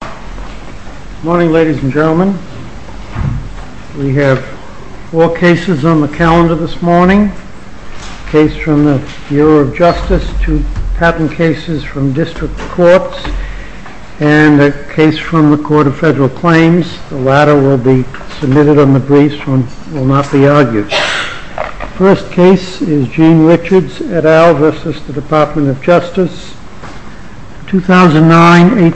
Good morning ladies and gentlemen. We have four cases on the calendar this morning. A case from the Bureau of Justice, two patent cases from District Courts, and a case from the Court of Federal Claims. The latter will be submitted on the briefs and will not be argued. The first case is Gene Richards et al. v. Department of Justice, 2009-2006,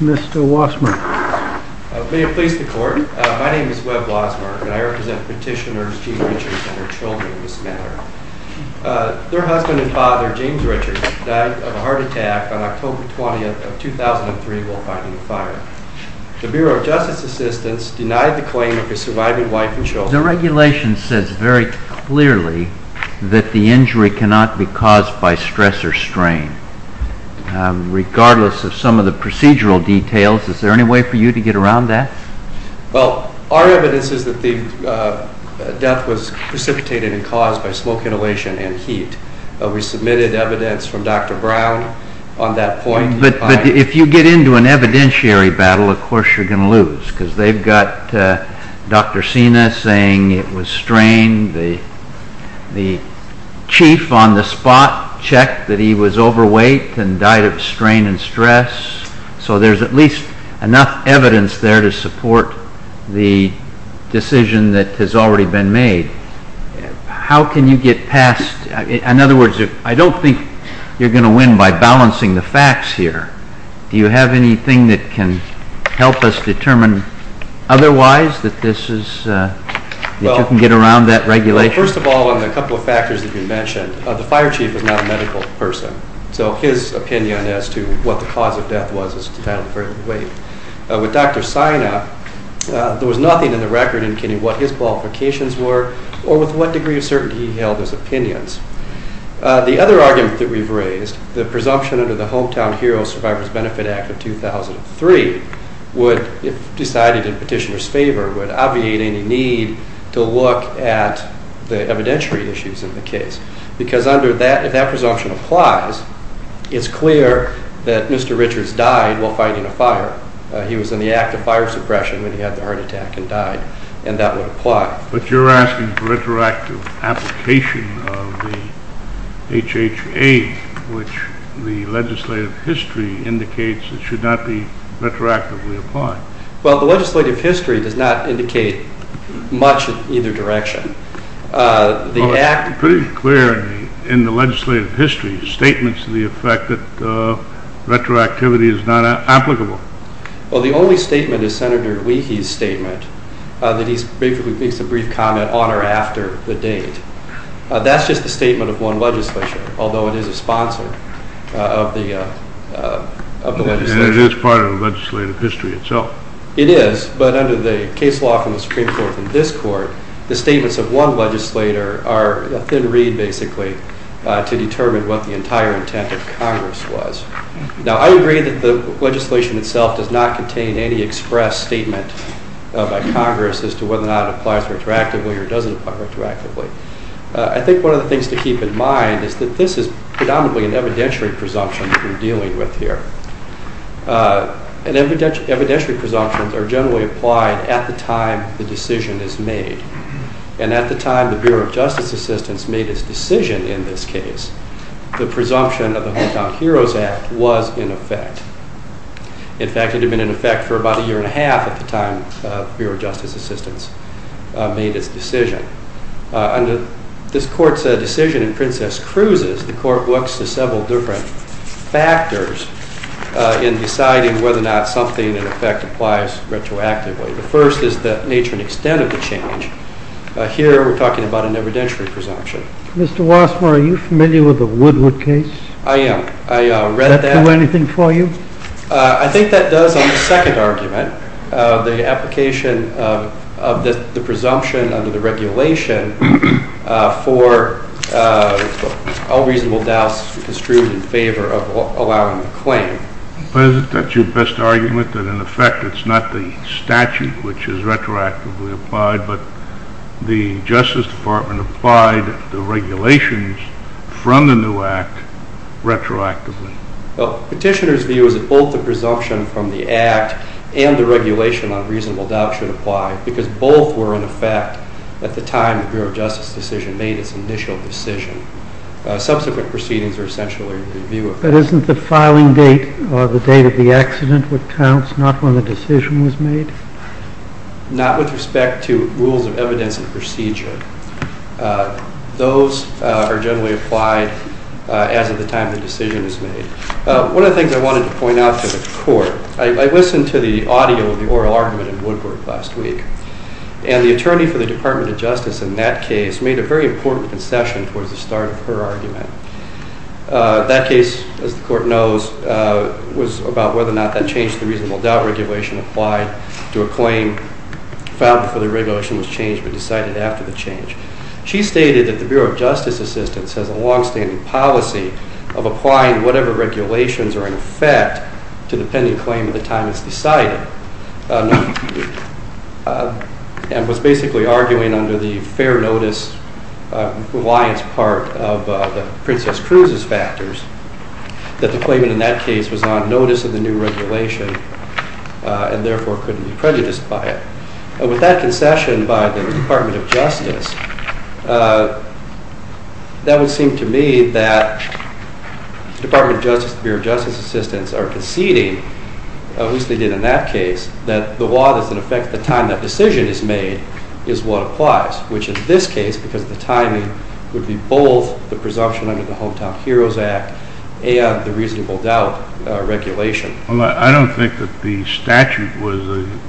Mr. Wassmer. May it please the Court, my name is Webb Wassmer, and I represent petitioners Gene Richards and her children in this matter. Their husband and father, James Richards, died of a heart attack on October 20, 2003 while fighting a fire. The Bureau of Justice Assistance denied the claim of his surviving wife and children. The regulation says very clearly that the injury cannot be caused by stress or strain. Regardless of some of the procedural details, is there any way for you to get around that? Our evidence is that the death was precipitated and caused by smoke inhalation and heat. We submitted evidence from Dr. Brown on that point. But if you get into an evidentiary battle, of course you're going to lose because they've got Dr. Sina saying it was strain. The chief on the spot checked that he was overweight and died of strain and stress. So there's at least enough evidence there to support the decision that has already been made. How can you get past... In other words, I don't think you're going to win by balancing the facts here. Do you have anything that can help us determine otherwise, that you can get around that regulation? Well, first of all, on the couple of factors that you mentioned, the fire chief is not a medical person, so his opinion as to what the cause of death was is to that effect. With Dr. Sina, there was nothing in the record indicating what his qualifications were or with what degree of certainty he held his opinions. The other argument that we've raised, the presumption under the Hometown Heroes Survivors Benefit Act of 2003, if decided in petitioner's favor, would obviate any need to look at the evidentiary issues in the case because if that presumption applies, it's clear that Mr. Richards died while fighting a fire. He was in the act of fire suppression when he had the heart attack and died, and that would apply. But you're asking for retroactive application of the HHA, which the legislative history indicates it should not be retroactively applied. Well, the legislative history does not indicate much in either direction. Well, it's pretty clear in the legislative history, statements to the effect that retroactivity is not applicable. That he basically makes a brief comment on or after the date. That's just the statement of one legislature, although it is a sponsor of the legislature. And it is part of the legislative history itself. It is, but under the case law from the Supreme Court and this Court, the statements of one legislator are a thin reed, basically, to determine what the entire intent of Congress was. Now, I agree that the legislation itself does not contain any express statement by Congress as to whether or not it applies retroactively or doesn't apply retroactively. I think one of the things to keep in mind is that this is predominantly an evidentiary presumption that we're dealing with here. And evidentiary presumptions are generally applied at the time the decision is made. And at the time the Bureau of Justice Assistance made its decision in this case, the presumption of the Hometown Heroes Act was in effect. In fact, it had been in effect for about a year and a half at the time the Bureau of Justice Assistance made its decision. Under this Court's decision in Princess Cruises, the Court looks to several different factors in deciding whether or not something, in effect, applies retroactively. The first is the nature and extent of the change. Here we're talking about an evidentiary presumption. Mr. Wassmer, are you familiar with the Woodward case? I am. I read that. Does that do anything for you? I think that does on the second argument, the application of the presumption under the regulation for unreasonable doubts construed in favor of allowing the claim. But isn't that your best argument that, in effect, it's not the statute which is retroactively applied, but the Justice Department applied the regulations from the new act retroactively? Well, Petitioner's view is that both the presumption from the act and the regulation on reasonable doubts should apply because both were in effect at the time the Bureau of Justice decision made its initial decision. Subsequent proceedings are essentially in view of that. But isn't the filing date or the date of the accident what counts, not when the decision was made? Not with respect to rules of evidence and procedure. Those are generally applied as of the time the decision is made. One of the things I wanted to point out to the court, I listened to the audio of the oral argument in Woodward last week, and the attorney for the Department of Justice in that case made a very important concession towards the start of her argument. That case, as the court knows, was about whether or not that change to the reasonable doubt regulation applied to a claim found before the regulation was changed but decided after the change. She stated that the Bureau of Justice Assistance has a long-standing policy of applying whatever regulations are in effect to the pending claim at the time it's decided, and was basically arguing under the fair notice reliance part of the Princess Cruz's factors that the claimant in that case was on notice of the new regulation and therefore couldn't be prejudiced by it. With that concession by the Department of Justice, that would seem to me that the Department of Justice, the Bureau of Justice Assistance are conceding, at least they did in that case, that the law that's in effect at the time that decision is made is what applies, which in this case, because of the timing, would be both the presumption under the Hometown Heroes Act and the reasonable doubt regulation. Well, I don't think that the statute was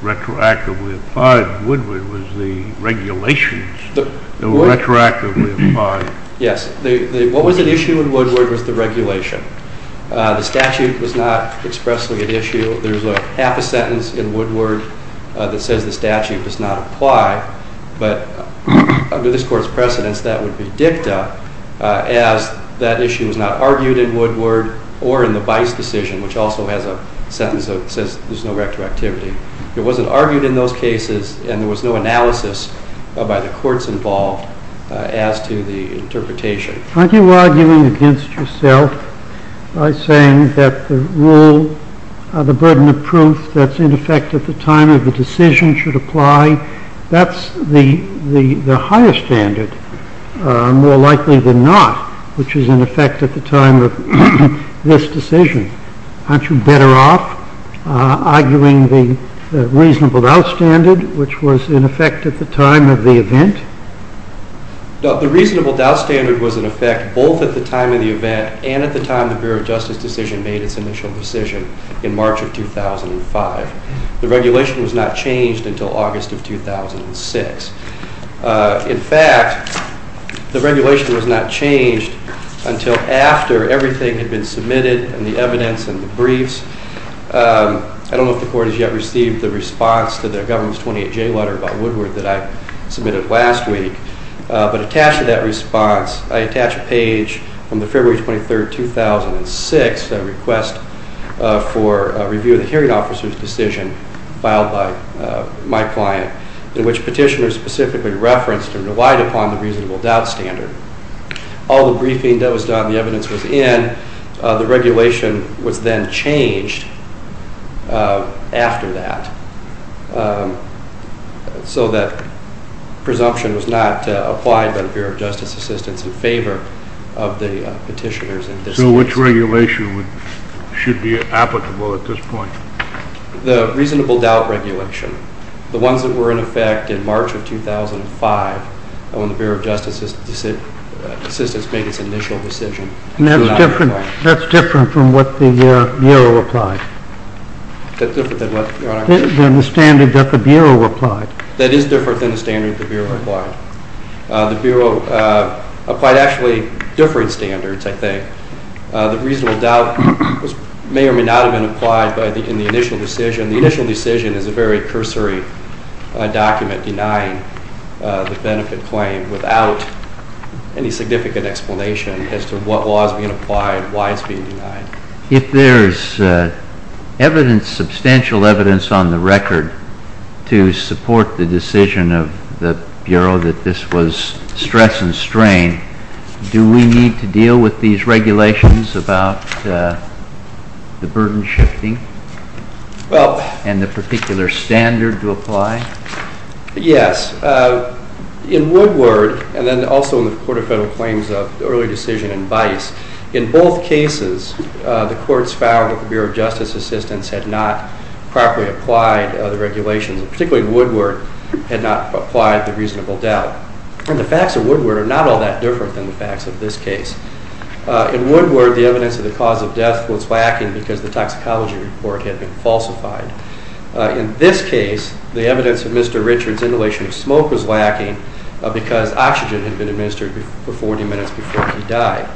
retroactively applied. Woodward was the regulations that were retroactively applied. Yes. What was at issue in Woodward was the regulation. The statute was not expressly at issue. There's half a sentence in Woodward that says the statute does not apply, but under this Court's precedence, that would be dicta as that issue was not argued in Woodward or in the Bice decision, which also has a sentence that says there's no retroactivity. It wasn't argued in those cases, and there was no analysis by the courts involved as to the interpretation. Aren't you arguing against yourself by saying that the rule, the burden of proof that's in effect at the time of the decision should apply? That's the higher standard, more likely than not, which is in effect at the time of this decision. Aren't you better off arguing the reasonable doubt standard, which was in effect at the time of the event? No. The reasonable doubt standard was in effect both at the time of the event and at the time the Bureau of Justice decision made its initial decision in March of 2005. The regulation was not changed until August of 2006. In fact, the regulation was not changed until after everything had been submitted and the evidence and the briefs. I don't know if the Court has yet received the response to the Government's 28-J letter by Woodward that I submitted last week, but attached to that response, I attach a page from the February 23, 2006, request for review of the hearing officer's decision filed by my client in which petitioners specifically referenced and relied upon the reasonable doubt standard. All the briefing that was done, the evidence was in. The regulation was then changed after that so that presumption was not applied by the Bureau of Justice assistance in favor of the petitioners in this case. So which regulation should be applicable at this point? The reasonable doubt regulation. The ones that were in effect in March of 2005 when the Bureau of Justice assistance made its initial decision. That's different from what the Bureau applied. That's different than what, Your Honor? The standard that the Bureau applied. That is different than the standard the Bureau applied. The Bureau applied actually different standards, I think. The reasonable doubt may or may not have been applied in the initial decision. The initial decision is a very cursory document denying the benefit claim without any significant explanation as to what law is being applied and why it's being denied. If there is substantial evidence on the record to support the decision of the Bureau that this was stress and strain, do we need to deal with these regulations about the burden shifting and the particular standard to apply? Yes. In Woodward, and then also in the Court of Federal Claims of Early Decision and Vice, in both cases the courts found that the Bureau of Justice assistance had not properly applied the regulations. Particularly Woodward had not applied the reasonable doubt. The facts of Woodward are not all that different than the facts of this case. In Woodward, the evidence of the cause of death was lacking because the toxicology report had been falsified. In this case, the evidence of Mr. Richard's inhalation of smoke was lacking because oxygen had been administered for 40 minutes before he died.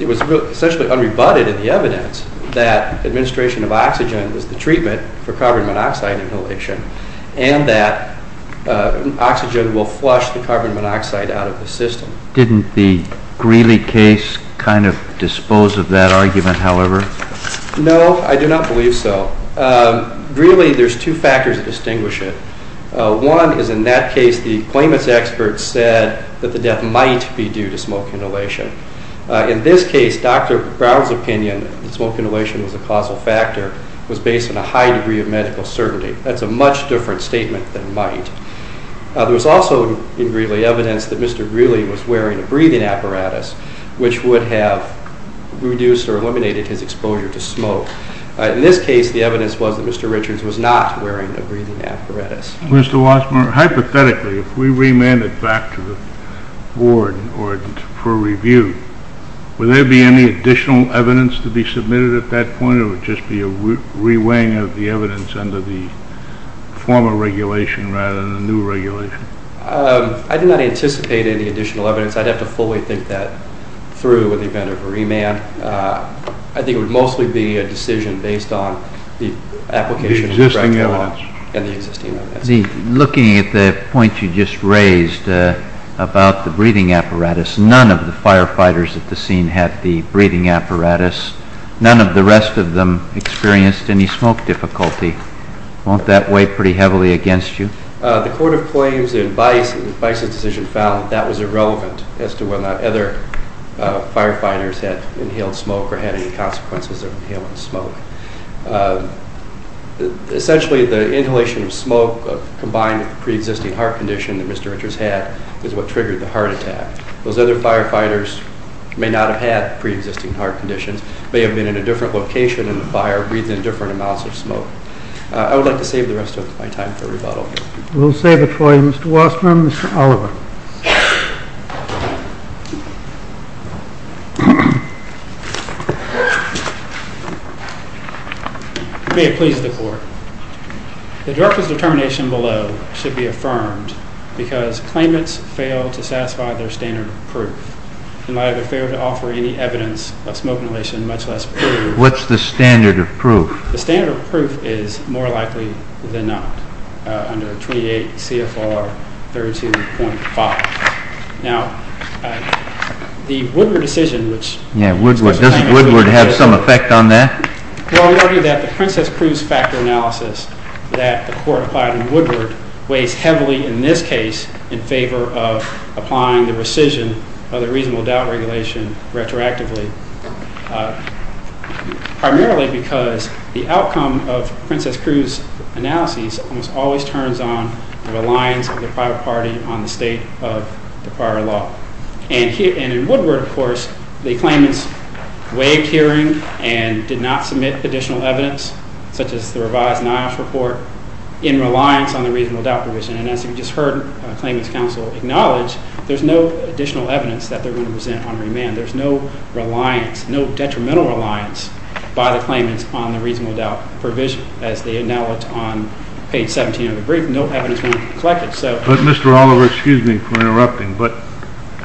It was essentially unrebutted in the evidence that administration of oxygen was the treatment for carbon monoxide inhalation and that oxygen will flush the carbon monoxide out of the system. Didn't the Greeley case kind of dispose of that argument, however? No, I do not believe so. Greeley, there's two factors that distinguish it. One is in that case the claimant's expert said that the death might be due to smoke inhalation. In this case, Dr. Brown's opinion that smoke inhalation was a causal factor was based on a high degree of medical certainty. That's a much different statement than might. There was also in Greeley evidence that Mr. Greeley was wearing a breathing apparatus which would have reduced or eliminated his exposure to smoke. In this case, the evidence was that Mr. Richard's was not wearing a breathing apparatus. Mr. Wassmer, hypothetically, if we remand it back to the board for review, would there be any additional evidence to be submitted at that point or would it just be a re-weighing of the evidence under the former regulation rather than the new regulation? I do not anticipate any additional evidence. I'd have to fully think that through in the event of a remand. I think it would mostly be a decision based on the application of the draft law and the existing evidence. Looking at the point you just raised about the breathing apparatus, none of the firefighters at the scene had the breathing apparatus. None of the rest of them experienced any smoke difficulty. Won't that weigh pretty heavily against you? The court of claims in Bice's decision found that that was irrelevant as to whether other firefighters had inhaled smoke or had any consequences of inhaling smoke. Essentially, the inhalation of smoke combined with the pre-existing heart condition that Mr. Richard's had is what triggered the heart attack. Those other firefighters may not have had pre-existing heart conditions, may have been in a different location in the fire, breathing different amounts of smoke. I would like to save the rest of my time for rebuttal. We'll save it for you, Mr. Wasserman. Mr. Oliver. May it please the court. The director's determination below should be affirmed because claimants failed to satisfy their standard of proof. They might have failed to offer any evidence of smoke inhalation, much less proof. What's the standard of proof? The standard of proof is more likely than not under 28 CFR 32.5. Now, the Woodward decision, which... Yeah, Woodward. Doesn't Woodward have some effect on that? Well, we argue that the Princess Cruz factor analysis that the court applied in Woodward weighs heavily in this case in favor of applying the rescission of the reasonable doubt regulation retroactively, primarily because the outcome of Princess Cruz analyses almost always turns on the reliance of the prior party on the state of the prior law. And in Woodward, of course, the claimants waived hearing and did not submit additional evidence, such as the revised NIOSH report, in reliance on the reasonable doubt provision. And as you just heard the claimants' counsel acknowledge, there's no additional evidence that they're going to present on remand. There's no reliance, no detrimental reliance, by the claimants on the reasonable doubt provision. As they announced on page 17 of the brief, no evidence was collected. But, Mr. Oliver, excuse me for interrupting, but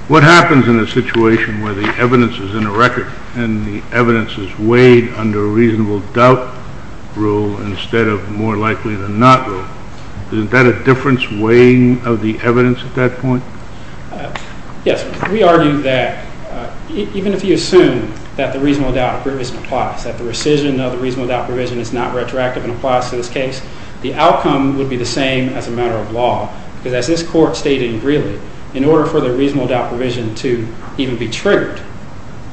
what happens in a situation where the evidence is in the record and the evidence is weighed under a reasonable doubt rule instead of more likely the not rule? Isn't that a difference weighing of the evidence at that point? Yes. We argue that even if you assume that the reasonable doubt provision applies, that the rescission of the reasonable doubt provision is not retroactive and applies to this case, the outcome would be the same as a matter of law. Because as this court stated in Greeley, in order for the reasonable doubt provision to even be triggered,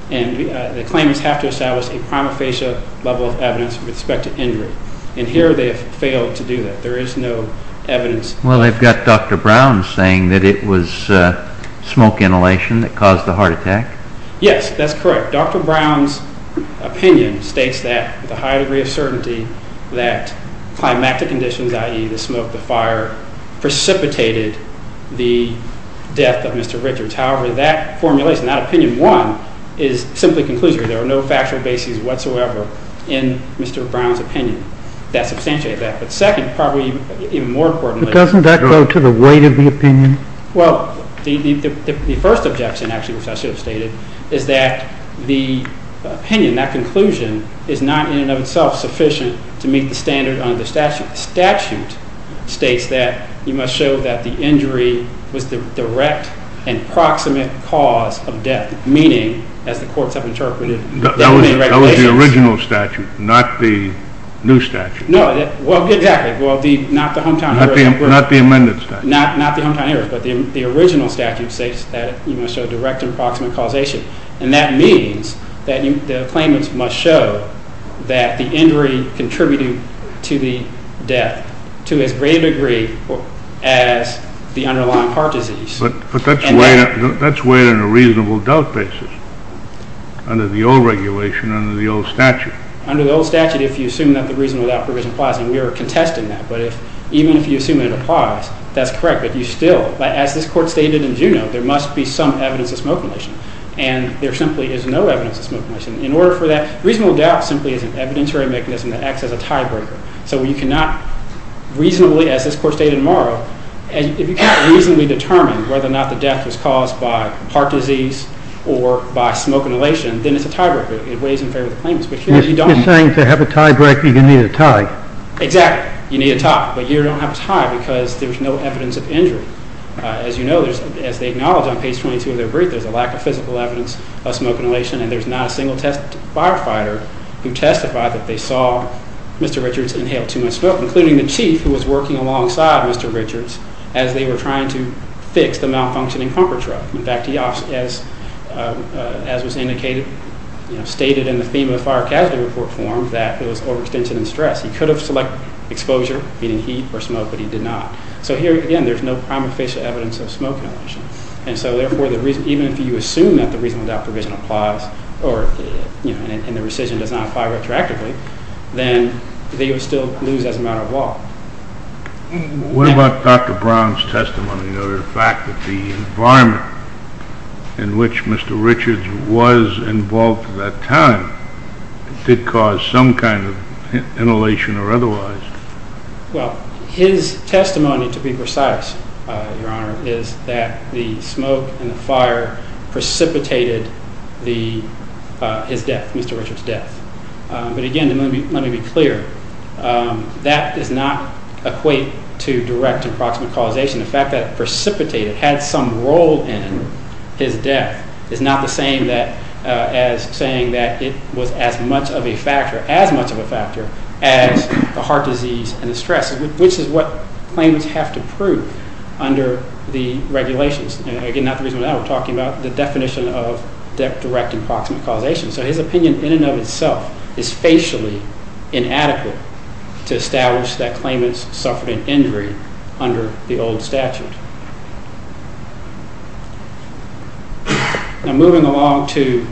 the claimants have to establish a prima facie level of evidence with respect to injury. And here they have failed to do that. There is no evidence. Well, they've got Dr. Brown saying that it was smoke inhalation that caused the heart attack. Yes, that's correct. Dr. Brown's opinion states that, with a high degree of certainty, that climatic conditions, i.e. the smoke, the fire, precipitated the death of Mr. Richards. However, that formulation, that opinion one, is simply conclusory. There are no factual bases whatsoever in Mr. Brown's opinion that substantiate that. But second, probably even more importantly- Well, the first objection, actually, which I should have stated, is that the opinion, that conclusion, is not in and of itself sufficient to meet the standard under the statute. The statute states that you must show that the injury was the direct and proximate cause of death, meaning, as the courts have interpreted- That was the original statute, not the new statute. No, well, exactly. Well, not the hometown area. Not the amended statute. Not the hometown area, but the original statute states that you must show direct and proximate causation, and that means that the claimants must show that the injury contributed to the death, to as great a degree as the underlying heart disease. But that's weighed on a reasonable doubt basis, under the old regulation, under the old statute. Under the old statute, if you assume that the reason without provision applies, and we are contesting that, but even if you assume that it applies, that's correct. But you still, as this court stated in Juneau, there must be some evidence of smoke inhalation, and there simply is no evidence of smoke inhalation. In order for that, reasonable doubt simply is an evidentiary mechanism that acts as a tiebreaker. So you cannot reasonably, as this court stated in Morrow, if you cannot reasonably determine whether or not the death was caused by heart disease or by smoke inhalation, then it's a tiebreaker. It weighs in favor of the claimants. You're saying to have a tiebreaker, you need a tie. Exactly. You need a tie, but you don't have a tie because there's no evidence of injury. As you know, as they acknowledge on page 22 of their brief, there's a lack of physical evidence of smoke inhalation, and there's not a single firefighter who testified that they saw Mr. Richards inhale too much smoke, including the chief who was working alongside Mr. Richards as they were trying to fix the malfunctioning bumper truck. In fact, as was indicated, stated in the FEMA fire casualty report form, that it was overextension and stress. He could have selected exposure, meaning heat or smoke, but he did not. So here, again, there's no prima facie evidence of smoke inhalation, and so therefore even if you assume that the reasonable doubt provision applies and the rescission does not apply retroactively, then they would still lose as a matter of law. What about Dr. Brown's testimony over the fact that the environment in which Mr. Richards was involved at that time did cause some kind of inhalation or otherwise? Well, his testimony, to be precise, Your Honor, is that the smoke and the fire precipitated his death, Mr. Richards' death. But again, let me be clear, that does not equate to direct and proximate causation. The fact that it precipitated, had some role in his death, is not the same as saying that it was as much of a factor as the heart disease and the stress, which is what claimants have to prove under the regulations. Again, not the reasonable doubt, we're talking about the definition of direct and proximate causation. So his opinion in and of itself is facially inadequate to establish that claimants suffered an injury under the old statute. Now, moving along to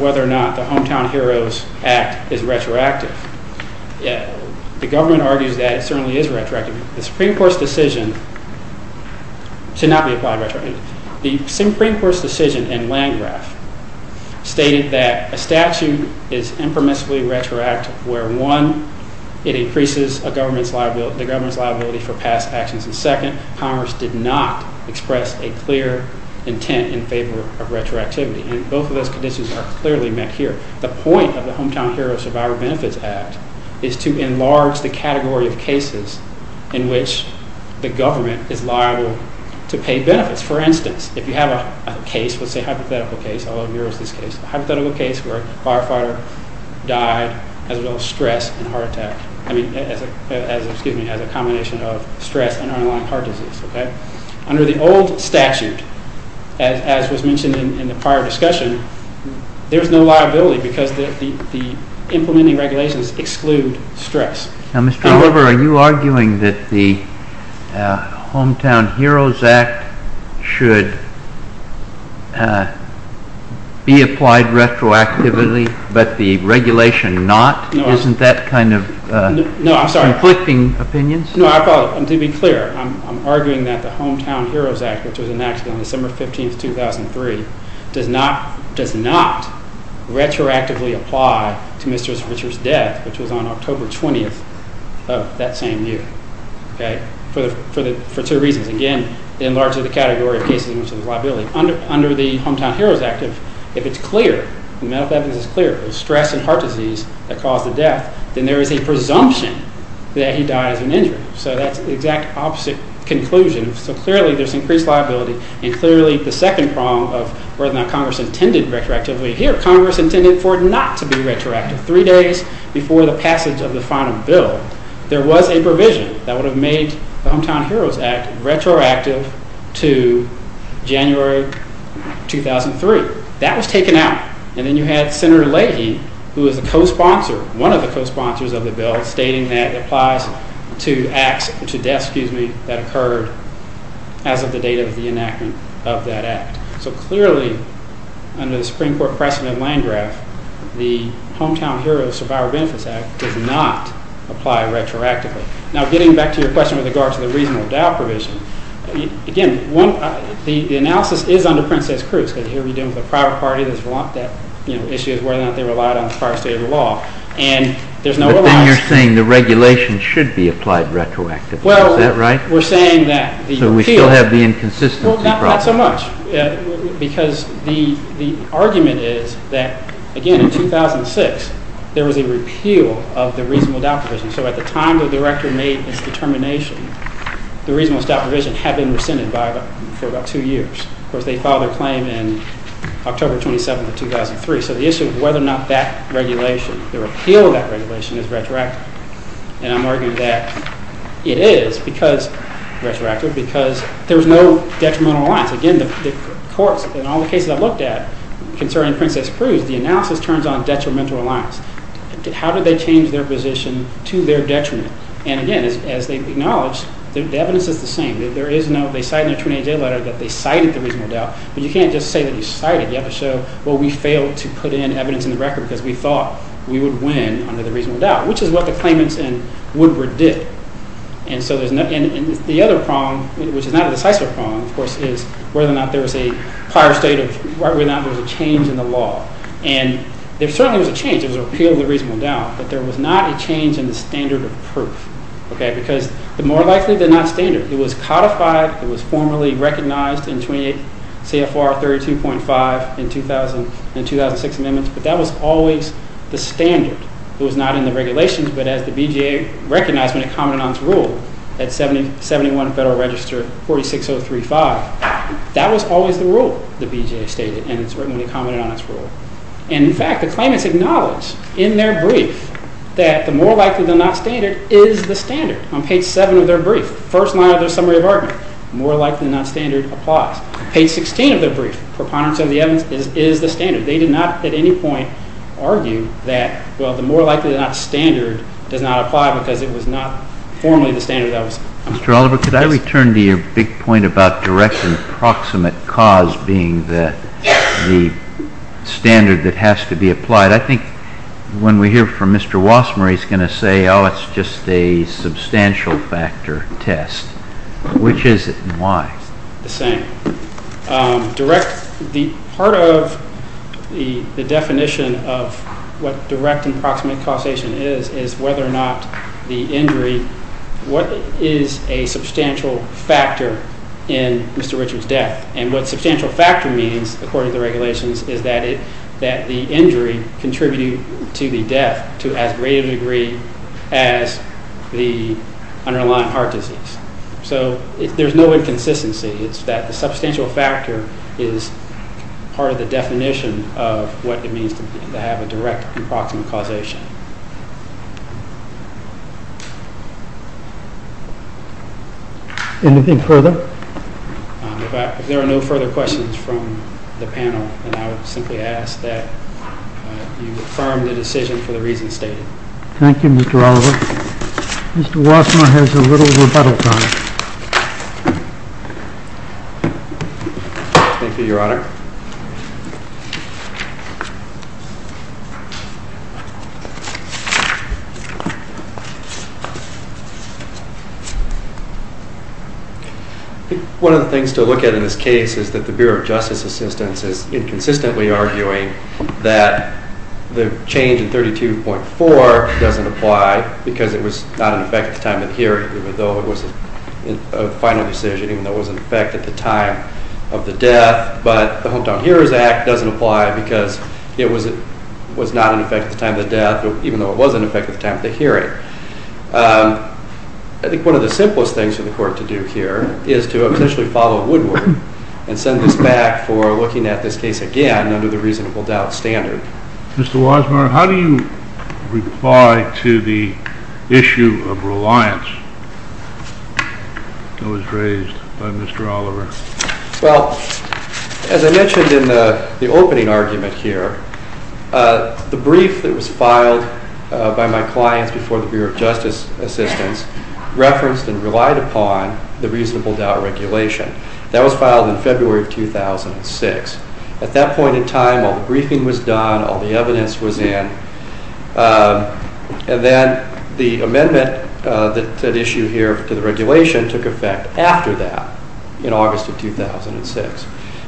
whether or not the Hometown Heroes Act is retroactive, the government argues that it certainly is retroactive. The Supreme Court's decision to not be applied retroactively, the Supreme Court's decision in Landgraf stated that a statute is impermissibly retroactive where one, it increases the government's liability for past actions, and second, Congress did not express a clear intent in favor of retroactivity. And both of those conditions are clearly met here. The point of the Hometown Heroes Survivor Benefits Act is to enlarge the category of cases in which the government is liable to pay benefits. For instance, if you have a hypothetical case where a firefighter died as a combination of stress and underlying heart disease. Under the old statute, as was mentioned in the prior discussion, there's no liability because the implementing regulations exclude stress. Now, Mr. Weber, are you arguing that the Hometown Heroes Act should be applied retroactively, but the regulation not? Isn't that kind of conflicting opinions? No, to be clear, I'm arguing that the Hometown Heroes Act, which was enacted on December 15, 2003, does not retroactively apply to Mr. Richard's death, which was on October 20 of that same year, for two reasons. Again, it enlarges the category of cases in which there's liability. Under the Hometown Heroes Act, if it's clear, the medical evidence is clear, there's stress and heart disease that caused the death, then there is a presumption that he died as an injury. So that's the exact opposite conclusion. So clearly, there's increased liability. And clearly, the second problem of whether or not Congress intended retroactively here, Congress intended for it not to be retroactive. Three days before the passage of the final bill, there was a provision that would have made the Hometown Heroes Act retroactive to January 2003. That was taken out. And then you had Senator Leahy, who was a co-sponsor, one of the co-sponsors of the bill, stating that it applies to deaths that occurred as of the date of the enactment of that act. So clearly, under the Supreme Court precedent land graph, the Hometown Heroes Survivor Benefits Act does not apply retroactively. Now, getting back to your question with regard to the reasonable doubt provision, again, the analysis is under Princess Cruz, because here we're dealing with a private party that issues whether or not they relied on the prior state of the law. But then you're saying the regulation should be applied retroactively. Is that right? Well, we're saying that the appeal... So we still have the inconsistency problem. Well, not so much, because the argument is that, again, in 2006, there was a repeal of the reasonable doubt provision. So at the time the director made his determination, the reasonable doubt provision had been rescinded for about two years. Of course, they filed their claim in October 27 of 2003. So the issue of whether or not that regulation, the repeal of that regulation, is retroactive. And I'm arguing that it is retroactive because there's no detrimental alliance. Again, the courts, in all the cases I've looked at concerning Princess Cruz, the analysis turns on detrimental alliance. How did they change their position to their detriment? And again, as they've acknowledged, the evidence is the same. They cite in their 28-day letter that they cited the reasonable doubt, but you can't just say that you cited it. You have to show, well, we failed to put in evidence in the record because we thought we would win under the reasonable doubt, which is what the claimants in Woodward did. And so the other problem, which is not a decisive problem, of course, is whether or not there was a prior state of whether or not there was a change in the law. And there certainly was a change. There was a repeal of the reasonable doubt, but there was not a change in the standard of proof, because the more likely than not standard. It was codified. It was formally recognized in 28 CFR 32.5 in 2006 amendments, but that was always the standard. It was not in the regulations, but as the BJA recognized when it commented on its rule at 71 Federal Register 46035, that was always the rule, the BJA stated, and it's written when it commented on its rule. And in fact, the claimants acknowledge in their brief that the more likely than not standard is the standard. On page 7 of their brief, first line of their summary of argument, more likely than not standard applies. On page 16 of their brief, preponderance of the evidence is the standard. They did not at any point argue that, well, the more likely than not standard does not apply, because it was not formally the standard that was. Mr. Oliver, could I return to your big point about direct and proximate cause being the standard that has to be applied? I think when we hear from Mr. Wassmer, he's going to say, oh, it's just a substantial factor test. Which is it and why? It's the same. Part of the definition of what direct and proximate causation is is whether or not the injury is a substantial factor in Mr. Richard's death. And what substantial factor means, according to the regulations, is that the injury contributed to the death to as great a degree as the underlying heart disease. So there's no inconsistency. It's that the substantial factor is part of the definition of what it means to have a direct and proximate causation. Anything further? If there are no further questions from the panel, then I would simply ask that you confirm the decision for the reasons stated. Thank you, Mr. Oliver. Mr. Wassmer has a little rebuttal time. Thank you, Your Honor. One of the things to look at in this case is that the Bureau of Justice Assistance is inconsistently arguing that the change in 32.4 doesn't apply because it was not in effect at the time of the hearing, even though it was a final decision, even though it was in effect at the time of the death. But the Hometown Heroes Act doesn't apply because it was not in effect at the time of the death, even though it was in effect at the time of the hearing. I think one of the simplest things for the Court to do here is to essentially follow Woodward and send this back for looking at this case again under the reasonable doubt standard. Mr. Wassmer, how do you reply to the issue of reliance that was raised by Mr. Oliver? Well, as I mentioned in the opening argument here, the brief that was filed by my clients before the Bureau of Justice Assistance referenced and relied upon the reasonable doubt regulation. That was filed in February of 2006. At that point in time, all the briefing was done, all the evidence was in, and then the amendment that's at issue here to the regulation took effect after that in August of 2006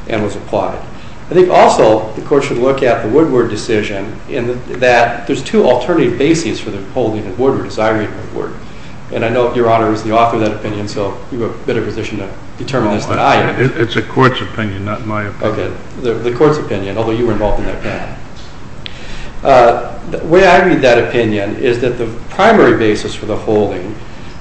and was applied. I think also the Court should look at the Woodward decision in that there's two alternative bases for the holding of Woodward. As I read Woodward, and I know Your Honor is the author of that opinion, so you have a better position to determine this than I am. It's the Court's opinion, not my opinion. Okay, the Court's opinion, although you were involved in that case. The way I read that opinion is that the primary basis for the holding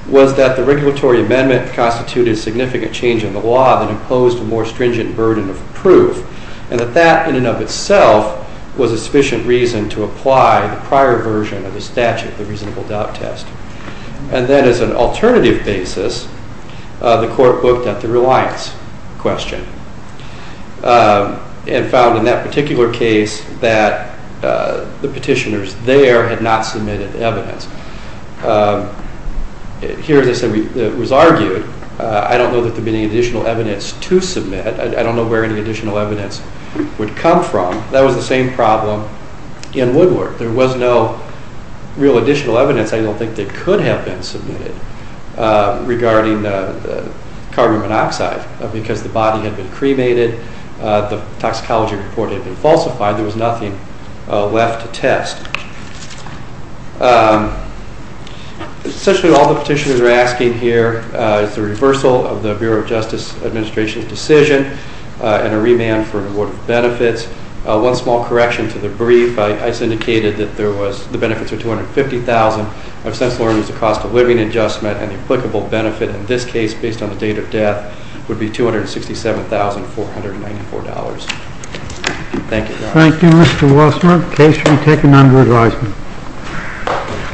was that the regulatory amendment constituted a significant change in the law that imposed a more stringent burden of proof, and that that in and of itself was a sufficient reason to apply the prior version of the statute, the reasonable doubt test. And then as an alternative basis, the Court looked at the reliance question and found in that particular case that the petitioners there had not submitted evidence. Here, as I said, it was argued. I don't know that there had been any additional evidence to submit. I don't know where any additional evidence would come from. That was the same problem in Woodward. There was no real additional evidence, I don't think, that could have been submitted regarding carbon monoxide because the body had been cremated, There was nothing left to test. Essentially, all the petitioners are asking here is the reversal of the Bureau of Justice Administration's decision and a remand for an award of benefits. One small correction to the brief. I indicated that the benefits were $250,000. I've sensed there was a cost-of-living adjustment and the applicable benefit in this case, based on the date of death, would be $267,494. Thank you. Thank you, Mr. Wasserman. The case will be taken under advisement.